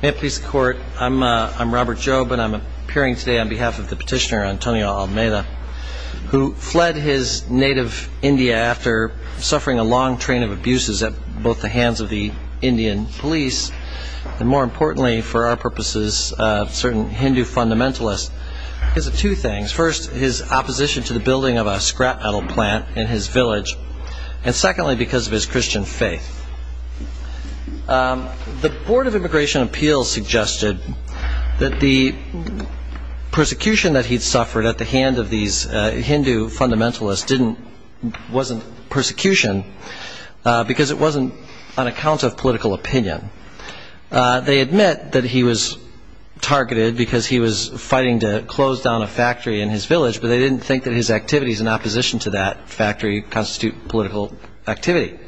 May it please the court, I'm Robert Jobe and I'm appearing today on behalf of the petitioner Antonio Almeida who fled his native India after suffering a long train of abuses at both the hands of the Indian police and more importantly, for our purposes, certain Hindu fundamentalists because of two things. First, his opposition to the building of a scrap metal plant in his village and secondly because of his Christian faith. The Board of Immigration Appeals suggested that the persecution that he'd suffered at the hand of these Hindu fundamentalists wasn't persecution because it wasn't on account of political opinion. They admit that he was targeted because he was fighting to close down a factory in his village but they didn't think that his activities in opposition to that factory constitute political activity.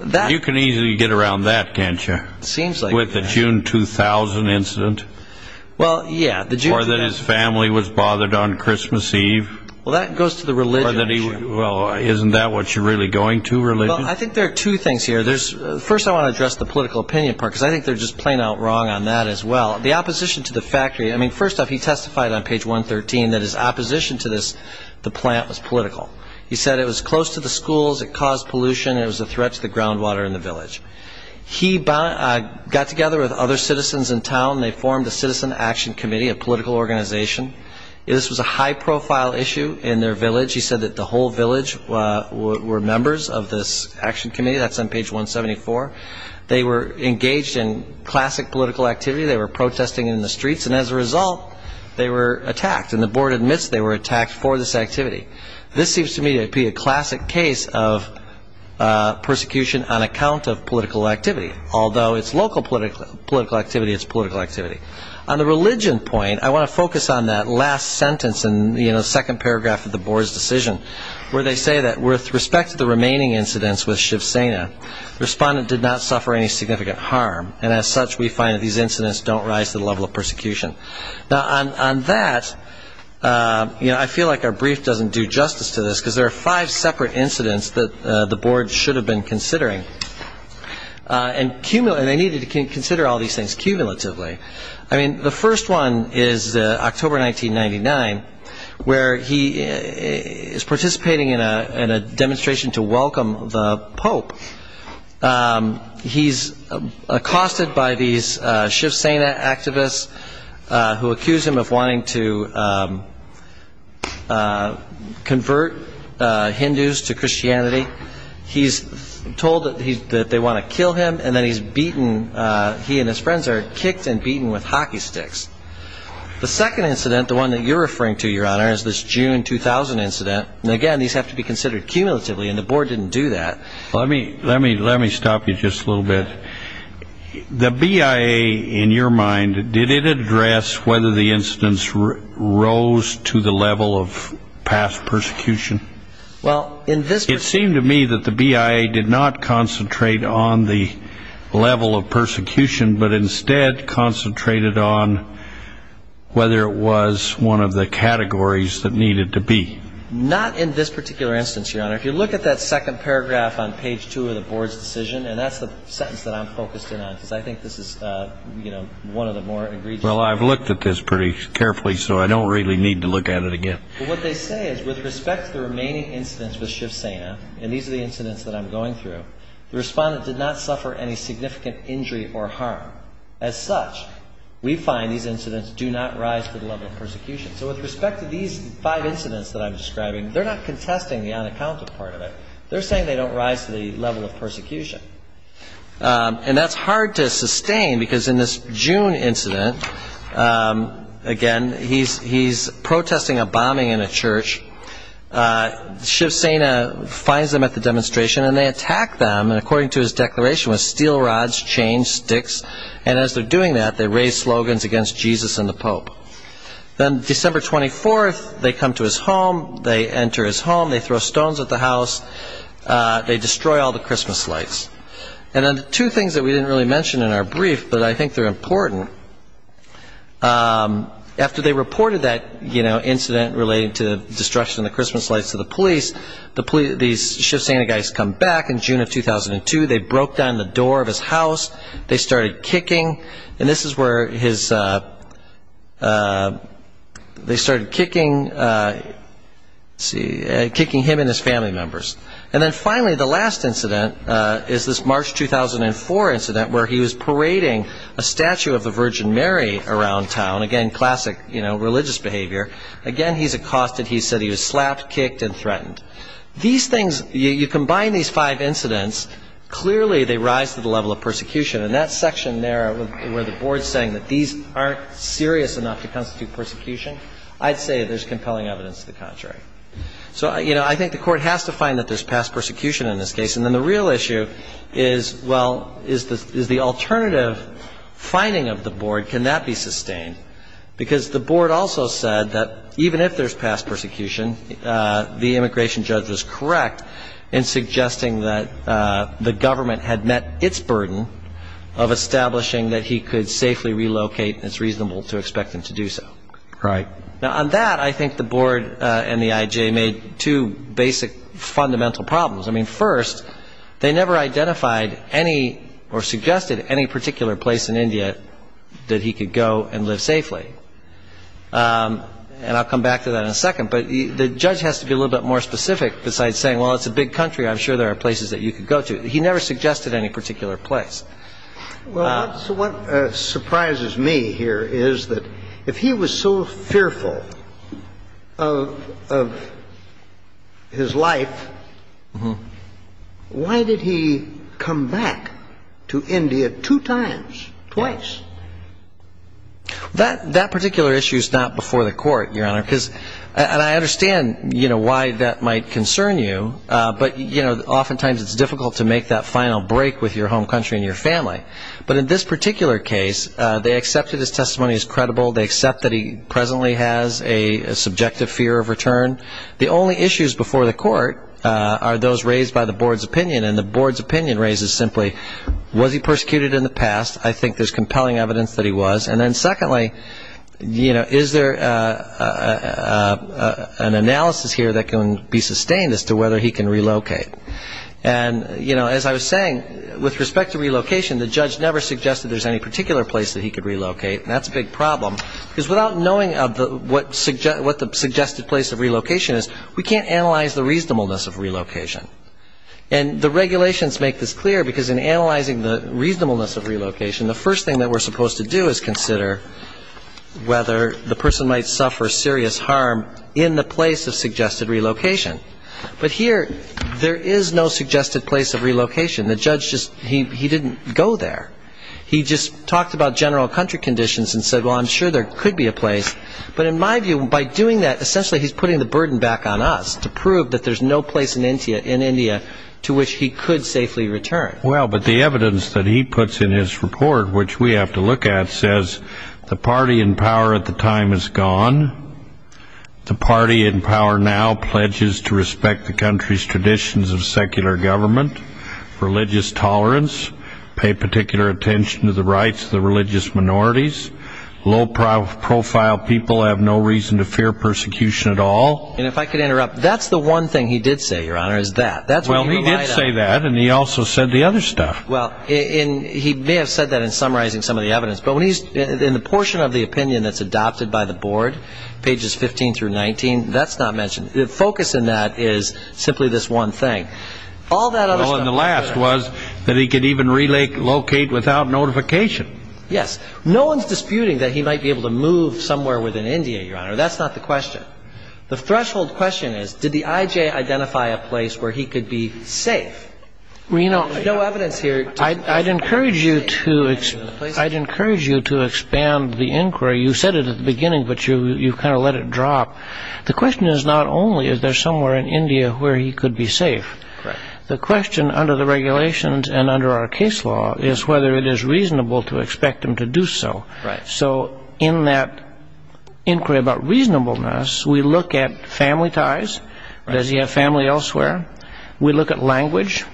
You can easily get around that, can't you? With the June 2000 incident? Well, yeah. Or that his family was bothered on Christmas Eve? Well, that goes to the religion issue. Well, isn't that what you're really going to, religion? Well, I think there are two things here. First, I want to address the political opinion part because I think they're just plain out wrong on that as well. The opposition to the factory, I mean, first off, he testified on page 113 that his opposition to the plant was political. He said it was close to the schools, it caused pollution, and it was a threat to the groundwater in the village. He got together with other citizens in town and they formed the Citizen Action Committee, a political organization. This was a high-profile issue in their village. He said that the whole village were members of this action committee. That's on page 174. They were engaged in classic political activity. They were protesting in the streets and as a result, they were attacked and the board admits they were attacked for this activity. This seems to me to be a classic case of persecution on account of political activity, although it's local political activity, it's political activity. On the religion point, I want to focus on that last sentence in the second paragraph of the board's decision where they say that with respect to the remaining incidents with Shiv Sena, the respondent did not suffer any significant harm, and as such, we find that these incidents don't rise to the level of persecution. Now, on that, I feel like our brief doesn't do justice to this because there are five separate incidents that the board should have been considering, and they needed to consider all these things cumulatively. I mean, the first one is October 1999, where he is participating in a demonstration to welcome the Pope. He's accosted by these Shiv Sena activists who accuse him of wanting to convert Hindus to Christianity. He's told that they want to kill him, and then he's beaten. He and his friends are kicked and beaten with hockey sticks. The second incident, the one that you're referring to, Your Honor, is this June 2000 incident, and again, these have to be considered cumulatively, and the board didn't do that. Let me stop you just a little bit. The BIA, in your mind, did it address whether the incidents rose to the level of past persecution? It seemed to me that the BIA did not concentrate on the level of persecution, but instead concentrated on whether it was one of the categories that needed to be. Not in this particular instance, Your Honor. If you look at that second paragraph on page two of the board's decision, and that's the sentence that I'm focused in on because I think this is, you know, one of the more egregious. Well, I've looked at this pretty carefully, so I don't really need to look at it again. What they say is, with respect to the remaining incidents with Shiv Sena, and these are the incidents that I'm going through, the respondent did not suffer any significant injury or harm. As such, we find these incidents do not rise to the level of persecution. So with respect to these five incidents that I'm describing, they're not contesting the unaccounted part of it. They're saying they don't rise to the level of persecution. And that's hard to sustain because in this June incident, again, he's protesting a bombing in a church. Shiv Sena finds them at the demonstration, and they attack them, and according to his declaration, with steel rods, chains, sticks. And as they're doing that, they raise slogans against Jesus and the Pope. Then December 24th, they come to his home. They enter his home. They throw stones at the house. They destroy all the Christmas lights. And then two things that we didn't really mention in our brief, but I think they're important. After they reported that, you know, incident relating to the destruction of the Christmas lights to the police, these Shiv Sena guys come back in June of 2002. They broke down the door of his house. They started kicking, and this is where they started kicking him and his family members. And then finally, the last incident is this March 2004 incident where he was parading a statue of the Virgin Mary around town. Again, classic religious behavior. Again, he's accosted. He said he was slapped, kicked, and threatened. These things, you combine these five incidents, clearly they rise to the level of persecution. And that section there where the board's saying that these aren't serious enough to constitute persecution, I'd say there's compelling evidence to the contrary. So, you know, I think the court has to find that there's past persecution in this case. And then the real issue is, well, is the alternative finding of the board, can that be sustained? Because the board also said that even if there's past persecution, the immigration judge was correct in suggesting that the government had met its burden of establishing that he could safely relocate, and it's reasonable to expect him to do so. Right. Now, on that, I think the board and the IJ made two basic fundamental problems. I mean, first, they never identified any or suggested any particular place in India that he could go and live safely. And I'll come back to that in a second. But the judge has to be a little bit more specific besides saying, well, it's a big country. I'm sure there are places that you could go to. He never suggested any particular place. Well, what surprises me here is that if he was so fearful of his life, why did he come back to India two times, twice? That particular issue is not before the court, Your Honor, because I understand, you know, why that might concern you. But, you know, oftentimes it's difficult to make that final break with your home country and your family. But in this particular case, they accepted his testimony as credible. They accept that he presently has a subjective fear of return. The only issues before the court are those raised by the board's opinion. And the board's opinion raises simply, was he persecuted in the past? I think there's compelling evidence that he was. And then secondly, you know, is there an analysis here that can be sustained as to whether he can relocate? And, you know, as I was saying, with respect to relocation, the judge never suggested there's any particular place that he could relocate. And that's a big problem, because without knowing what the suggested place of relocation is, we can't analyze the reasonableness of relocation. And the regulations make this clear, because in analyzing the reasonableness of relocation, the first thing that we're supposed to do is consider whether the person might suffer serious harm in the place of suggested relocation. But here, there is no suggested place of relocation. The judge just he didn't go there. He just talked about general country conditions and said, well, I'm sure there could be a place. But in my view, by doing that, essentially he's putting the burden back on us to prove that there's no place in India to which he could safely return. Well, but the evidence that he puts in his report, which we have to look at, says the party in power at the time is gone. The party in power now pledges to respect the country's traditions of secular government, religious tolerance, pay particular attention to the rights of the religious minorities. Low-profile people have no reason to fear persecution at all. And if I could interrupt, that's the one thing he did say, Your Honor, is that. Well, he did say that, and he also said the other stuff. Well, and he may have said that in summarizing some of the evidence. But when he's in the portion of the opinion that's adopted by the board, pages 15 through 19, that's not mentioned. The focus in that is simply this one thing. All that other stuff. Well, and the last was that he could even relocate without notification. Yes. No one's disputing that he might be able to move somewhere within India, Your Honor. That's not the question. The threshold question is, did the IJ identify a place where he could be safe? There's no evidence here. I'd encourage you to expand the inquiry. You said it at the beginning, but you kind of let it drop. The question is not only is there somewhere in India where he could be safe. The question under the regulations and under our case law is whether it is reasonable to expect him to do so. So in that inquiry about reasonableness, we look at family ties. Does he have family elsewhere? We look at language.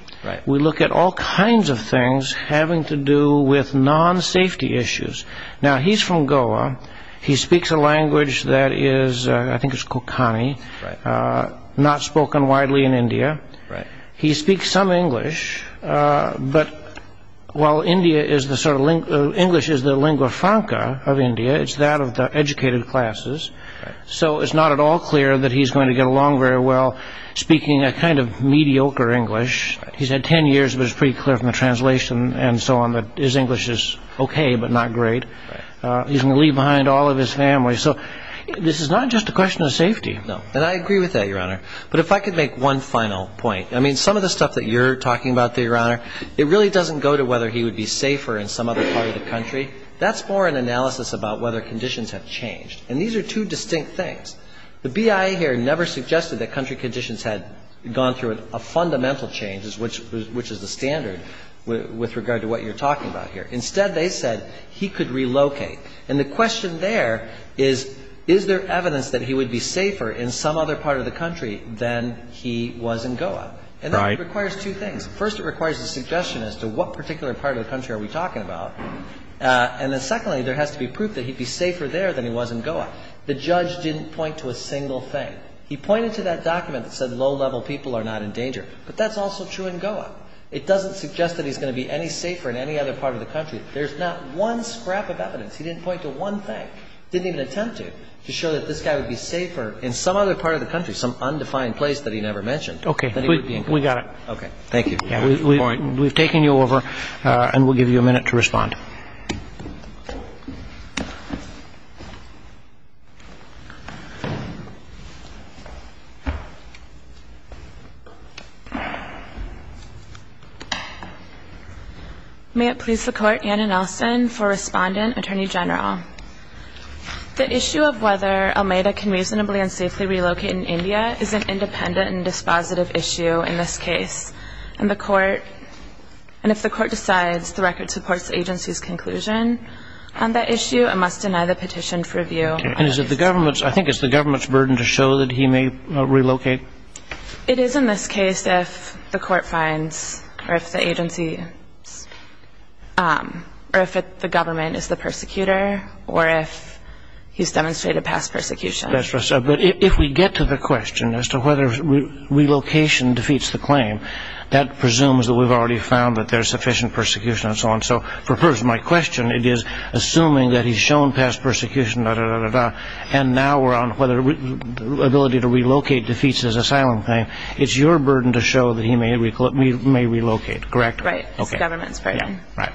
We look at all kinds of things having to do with non-safety issues. Now, he's from Goa. He speaks a language that is, I think it's Kokani, not spoken widely in India. He speaks some English, but while English is the lingua franca of India, it's that of the educated classes. So it's not at all clear that he's going to get along very well speaking a kind of mediocre English. He's had 10 years, but it's pretty clear from the translation and so on that his English is okay but not great. He's going to leave behind all of his family. So this is not just a question of safety. No. And I agree with that, Your Honor. But if I could make one final point. I mean, some of the stuff that you're talking about there, Your Honor, it really doesn't go to whether he would be safer in some other part of the country. That's more an analysis about whether conditions have changed. And these are two distinct things. The BIA here never suggested that country conditions had gone through a fundamental change, which is the standard with regard to what you're talking about here. Instead, they said he could relocate. And the question there is, is there evidence that he would be safer in some other part of the country than he was in Goa? Right. And that requires two things. First, it requires a suggestion as to what particular part of the country are we talking about. And then secondly, there has to be proof that he'd be safer there than he was in Goa. The judge didn't point to a single thing. He pointed to that document that said low-level people are not in danger. But that's also true in Goa. It doesn't suggest that he's going to be any safer in any other part of the country. There's not one scrap of evidence. He didn't point to one thing. He didn't even attempt to, to show that this guy would be safer in some other part of the country, some undefined place that he never mentioned, than he would be in Goa. Okay. We got it. Okay. Thank you. May it please the Court, Anna Nelson for Respondent, Attorney General. The issue of whether Almeida can reasonably and safely relocate in India is an independent and dispositive issue in this case. And the Court, and if the Court decides the record supports the agency's conclusion on that issue, it must deny the petition for review. And is it the government's, I think it's the government's burden to show that he may relocate? It is in this case if the Court finds, or if the agency, or if the government is the persecutor, or if he's demonstrated past persecution. That's right. But if we get to the question as to whether relocation defeats the claim, that presumes that we've already found that there's sufficient persecution and so on. So for my question, it is assuming that he's shown past persecution, da-da-da-da-da, and now we're on whether the ability to relocate defeats his asylum claim, it's your burden to show that he may relocate, correct? Right. It's the government's burden. Right.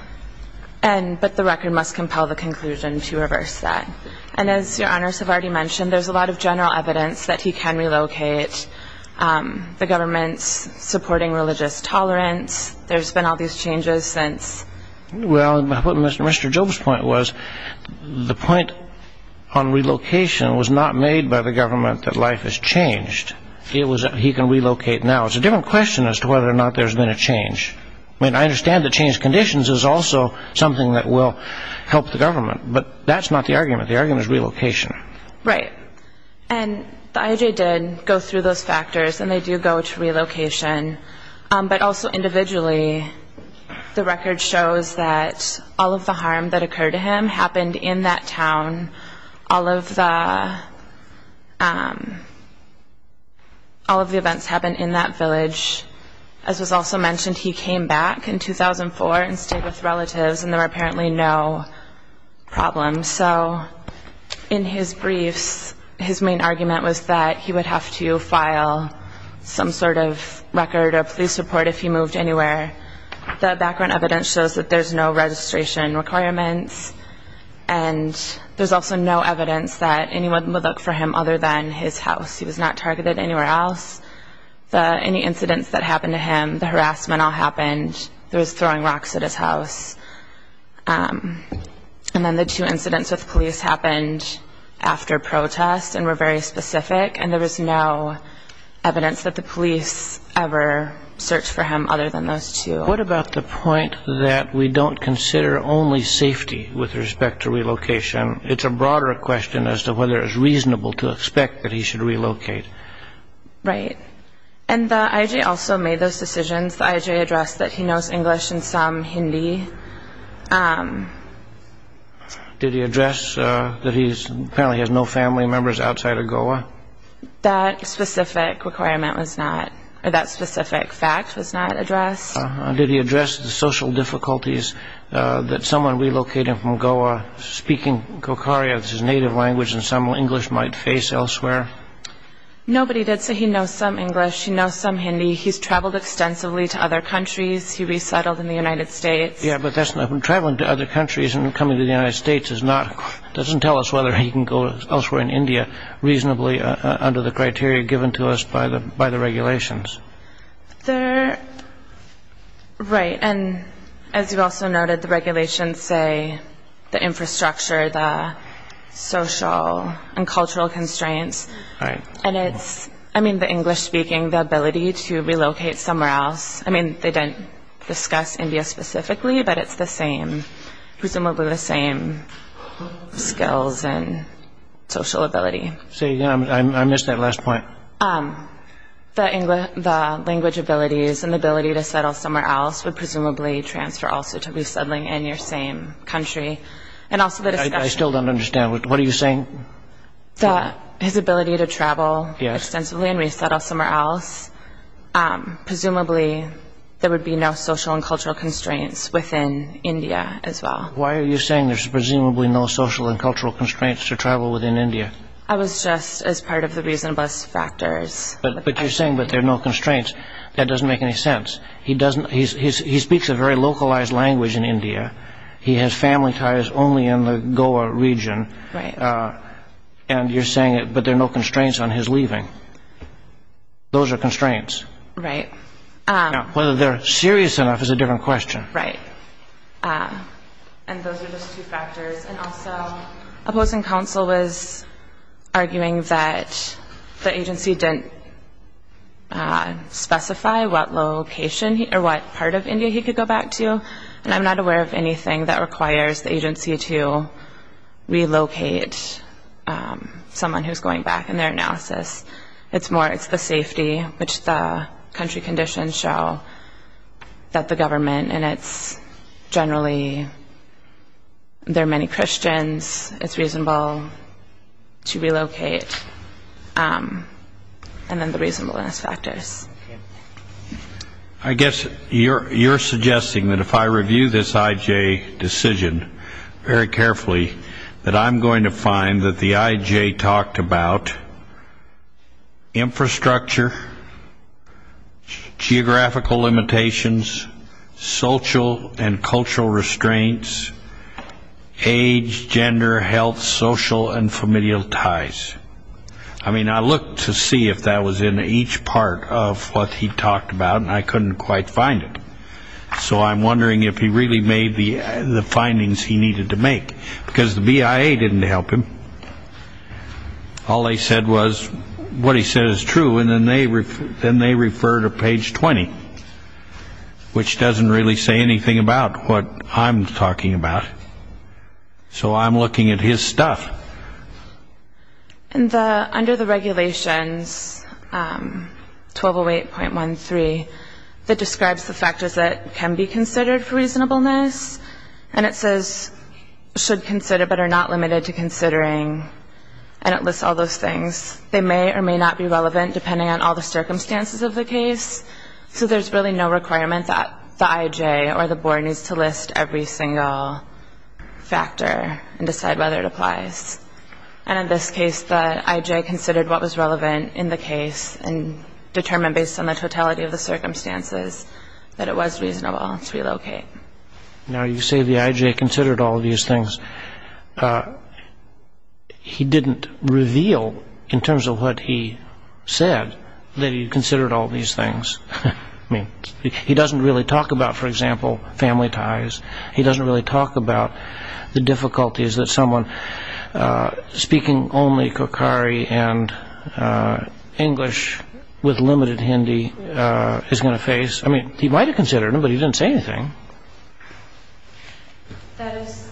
But the record must compel the conclusion to reverse that. And as Your Honors have already mentioned, there's a lot of general evidence that he can relocate. The government's supporting religious tolerance. There's been all these changes since. Well, Mr. Job's point was the point on relocation was not made by the government that life has changed. It was that he can relocate now. It's a different question as to whether or not there's been a change. I mean, I understand the changed conditions is also something that will help the government, but that's not the argument. The argument is relocation. Right. And the IAJ did go through those factors, and they do go to relocation. But also individually, the record shows that all of the harm that occurred to him happened in that town. All of the events happened in that village. As was also mentioned, he came back in 2004 and stayed with relatives, and there were apparently no problems. So in his briefs, his main argument was that he would have to file some sort of record or police report if he moved anywhere. The background evidence shows that there's no registration requirements, and there's also no evidence that anyone would look for him other than his house. He was not targeted anywhere else. Any incidents that happened to him, the harassment all happened. There was throwing rocks at his house. And then the two incidents with police happened after protest and were very specific, and there was no evidence that the police ever searched for him other than those two. What about the point that we don't consider only safety with respect to relocation? It's a broader question as to whether it's reasonable to expect that he should relocate. Right. And the IJ also made those decisions. The IJ addressed that he knows English and some Hindi. Did he address that he apparently has no family members outside of Goa? That specific requirement was not, or that specific fact was not addressed. Did he address the social difficulties that someone relocating from Goa, speaking Kokaria, his native language, and some English might face elsewhere? Nobody did say he knows some English, he knows some Hindi. He's traveled extensively to other countries. He resettled in the United States. Yeah, but traveling to other countries and coming to the United States doesn't tell us whether he can go elsewhere in India reasonably under the criteria given to us by the regulations. There, right, and as you also noted, the regulations say the infrastructure, the social and cultural constraints, and it's, I mean, the English speaking, the ability to relocate somewhere else, I mean, they didn't discuss India specifically, but it's the same, presumably the same skills and social ability. Say again, I missed that last point. The English, the language abilities and the ability to settle somewhere else would presumably transfer also to resettling in your same country. And also the discussion... I still don't understand, what are you saying? His ability to travel extensively and resettle somewhere else, presumably there would be no social and cultural constraints within India as well. Why are you saying there's presumably no social and cultural constraints to travel within India? I was just, as part of the reasonableness factors. But you're saying that there are no constraints. That doesn't make any sense. He doesn't, he speaks a very localized language in India. He has family ties only in the Goa region. Right. And you're saying that there are no constraints on his leaving. Those are constraints. Right. Whether they're serious enough is a different question. Right. And those are just two factors. And also opposing counsel was arguing that the agency didn't specify what location or what part of India he could go back to. And I'm not aware of anything that requires the agency to relocate someone who's going back in their analysis. It's more, it's the safety which the country conditions show that the government and it's generally, there are many Christians, it's reasonable to relocate. And then the reasonableness factors. I guess you're suggesting that if I review this IJ decision very carefully that I'm going to find that the IJ talked about infrastructure, geographical limitations, social and cultural restraints, age, gender, health, social and familial ties. I mean I looked to see if that was in each part of what he talked about and I couldn't quite find it. So I'm wondering if he really made the findings he needed to make. Because the BIA didn't help him. All they said was what he said is true and then they refer to page 20, which doesn't really say anything about what I'm talking about. So I'm looking at his stuff. And under the regulations, 1208.13, that describes the factors that can be considered for reasonableness and it says should consider but are not limited to considering and it lists all those things. They may or may not be relevant depending on all the circumstances of the case. So there's really no requirement that the IJ or the board needs to list every single factor and decide whether it applies. And in this case the IJ considered what was relevant in the case and determined based on the totality of the circumstances that it was reasonable to relocate. Now you say the IJ considered all these things. He didn't reveal in terms of what he said that he considered all these things. I mean he doesn't really talk about, for example, family ties. He doesn't really talk about the difficulties that someone, speaking only Kokkari and English with limited Hindi, is going to face. I mean he might have considered them, but he didn't say anything. That is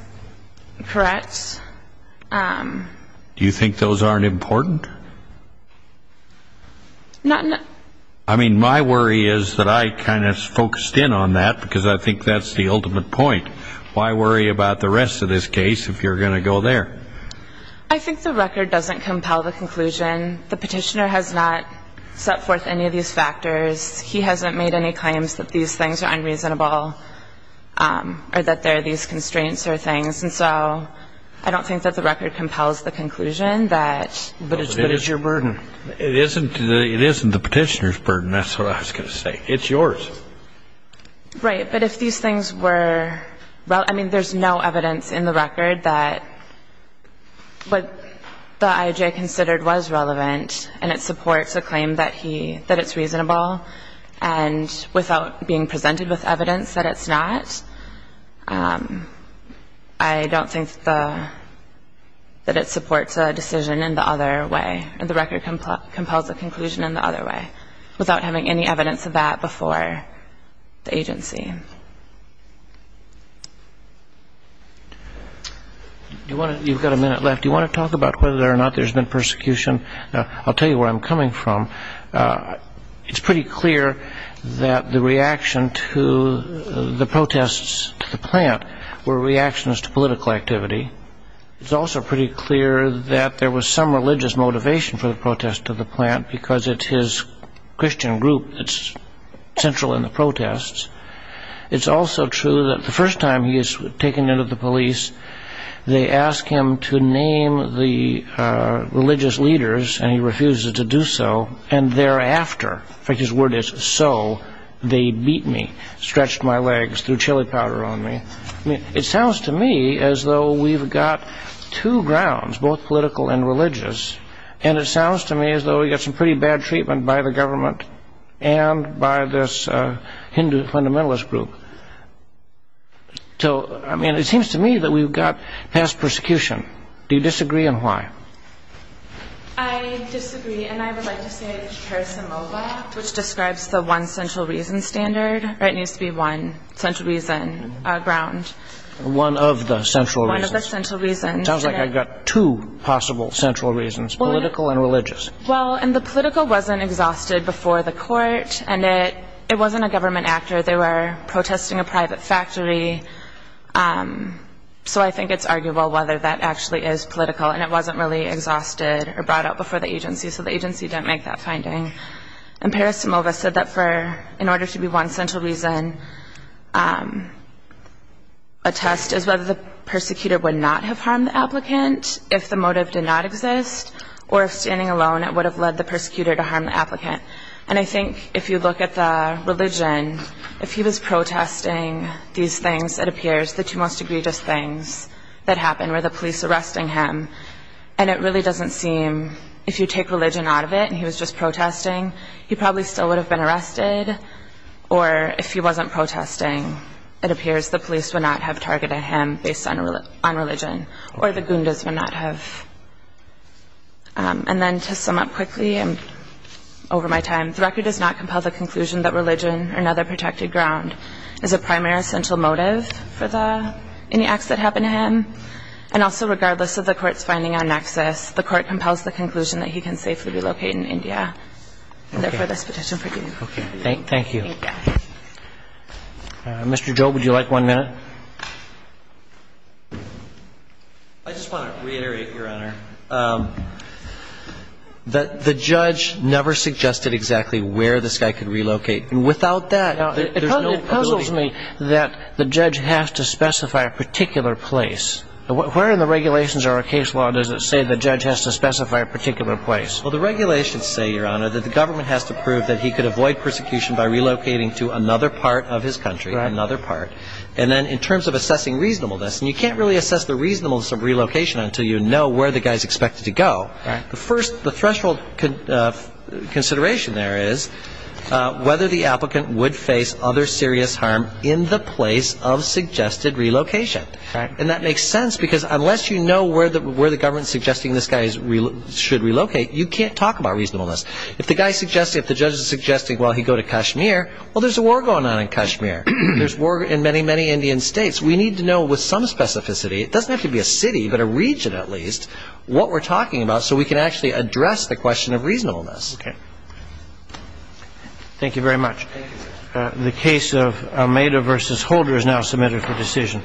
correct. Do you think those aren't important? Not in a... I mean my worry is that I kind of focused in on that because I think that's the ultimate point. Why worry about the rest of this case if you're going to go there? I think the record doesn't compel the conclusion. The petitioner has not set forth any of these factors. He hasn't made any claims that these things are unreasonable or that there are these constraints or things. And so I don't think that the record compels the conclusion that... But it's your burden. It isn't the petitioner's burden. That's what I was going to say. It's yours. Right. But if these things were... I mean there's no evidence in the record that what the IAJ considered was relevant and it supports a claim that it's reasonable and without being presented with evidence that it's not, I don't think that it supports a decision in the other way and the record compels the conclusion in the other way without having any evidence of that before the agency. You've got a minute left. Do you want to talk about whether or not there's been persecution? I'll tell you where I'm coming from. It's pretty clear that the reaction to the protests to the plant were reactions to political activity. It's also pretty clear that there was some religious motivation for the protests to the plant because it's his Christian group that's central in the protests. It's also true that the first time he was taken into the police, they asked him to name the religious leaders and he refused to do so and thereafter, in fact his word is so, they beat me, stretched my legs, threw chili powder on me. It sounds to me as though we've got two grounds, both political and religious and it sounds to me as though we've got some pretty bad treatment by the government and by this Hindu fundamentalist group. So, I mean, it seems to me that we've got past persecution. Do you disagree and why? I disagree and I would like to say it's parisimova which describes the one central reason standard. It needs to be one central reason ground. One of the central reasons. One of the central reasons. It sounds like I've got two possible central reasons, political and religious. Well, and the political wasn't exhausted before the court and it wasn't a government actor. They were protesting a private factory. So I think it's arguable whether that actually is political and it wasn't really exhausted or brought up before the agency so the agency didn't make that finding. And parisimova said that in order to be one central reason, a test is whether the persecutor would not have harmed the applicant if the motive did not exist or if standing alone it would have led the persecutor to harm the applicant. And I think if you look at the religion, if he was protesting these things, it appears, the two most egregious things that happened were the police arresting him and it really doesn't seem, if you take religion out of it and he was just protesting, he probably still would have been arrested or if he wasn't protesting, it appears, the police would not have targeted him based on religion or the gundas would not have. And then to sum up quickly over my time, the record does not compel the conclusion that religion or another protected ground is a primary essential motive for any acts that happen to him. And also regardless of the court's finding on nexus, the court compels the conclusion that he can safely be located in India. And therefore, this petition forgives. Thank you. Mr. Job, would you like one minute? I just want to reiterate, Your Honor, that the judge never suggested exactly where this guy could relocate. And without that, there's no possibility. It puzzles me that the judge has to specify a particular place. Where in the regulations or our case law does it say the judge has to specify a particular place? Well, the regulations say, Your Honor, that the government has to prove that he could avoid persecution by relocating to another part of his country, another part. And then in terms of assessing reasonableness, and you can't really assess the reasonableness of relocation until you know where the guy is expected to go. The first, the threshold consideration there is whether the applicant would face other serious harm in the place of suggested relocation. And that makes sense because unless you know where the government is suggesting this guy should relocate, you can't talk about reasonableness. If the guy suggests, if the judge is suggesting, well, he'd go to Kashmir, well, there's a war going on in Kashmir. There's war in many, many Indian states. We need to know with some specificity, it doesn't have to be a city, but a region at least, what we're talking about so we can actually address the question of reasonableness. Okay. Thank you very much. The case of Almeida v. Holder is now submitted for decision.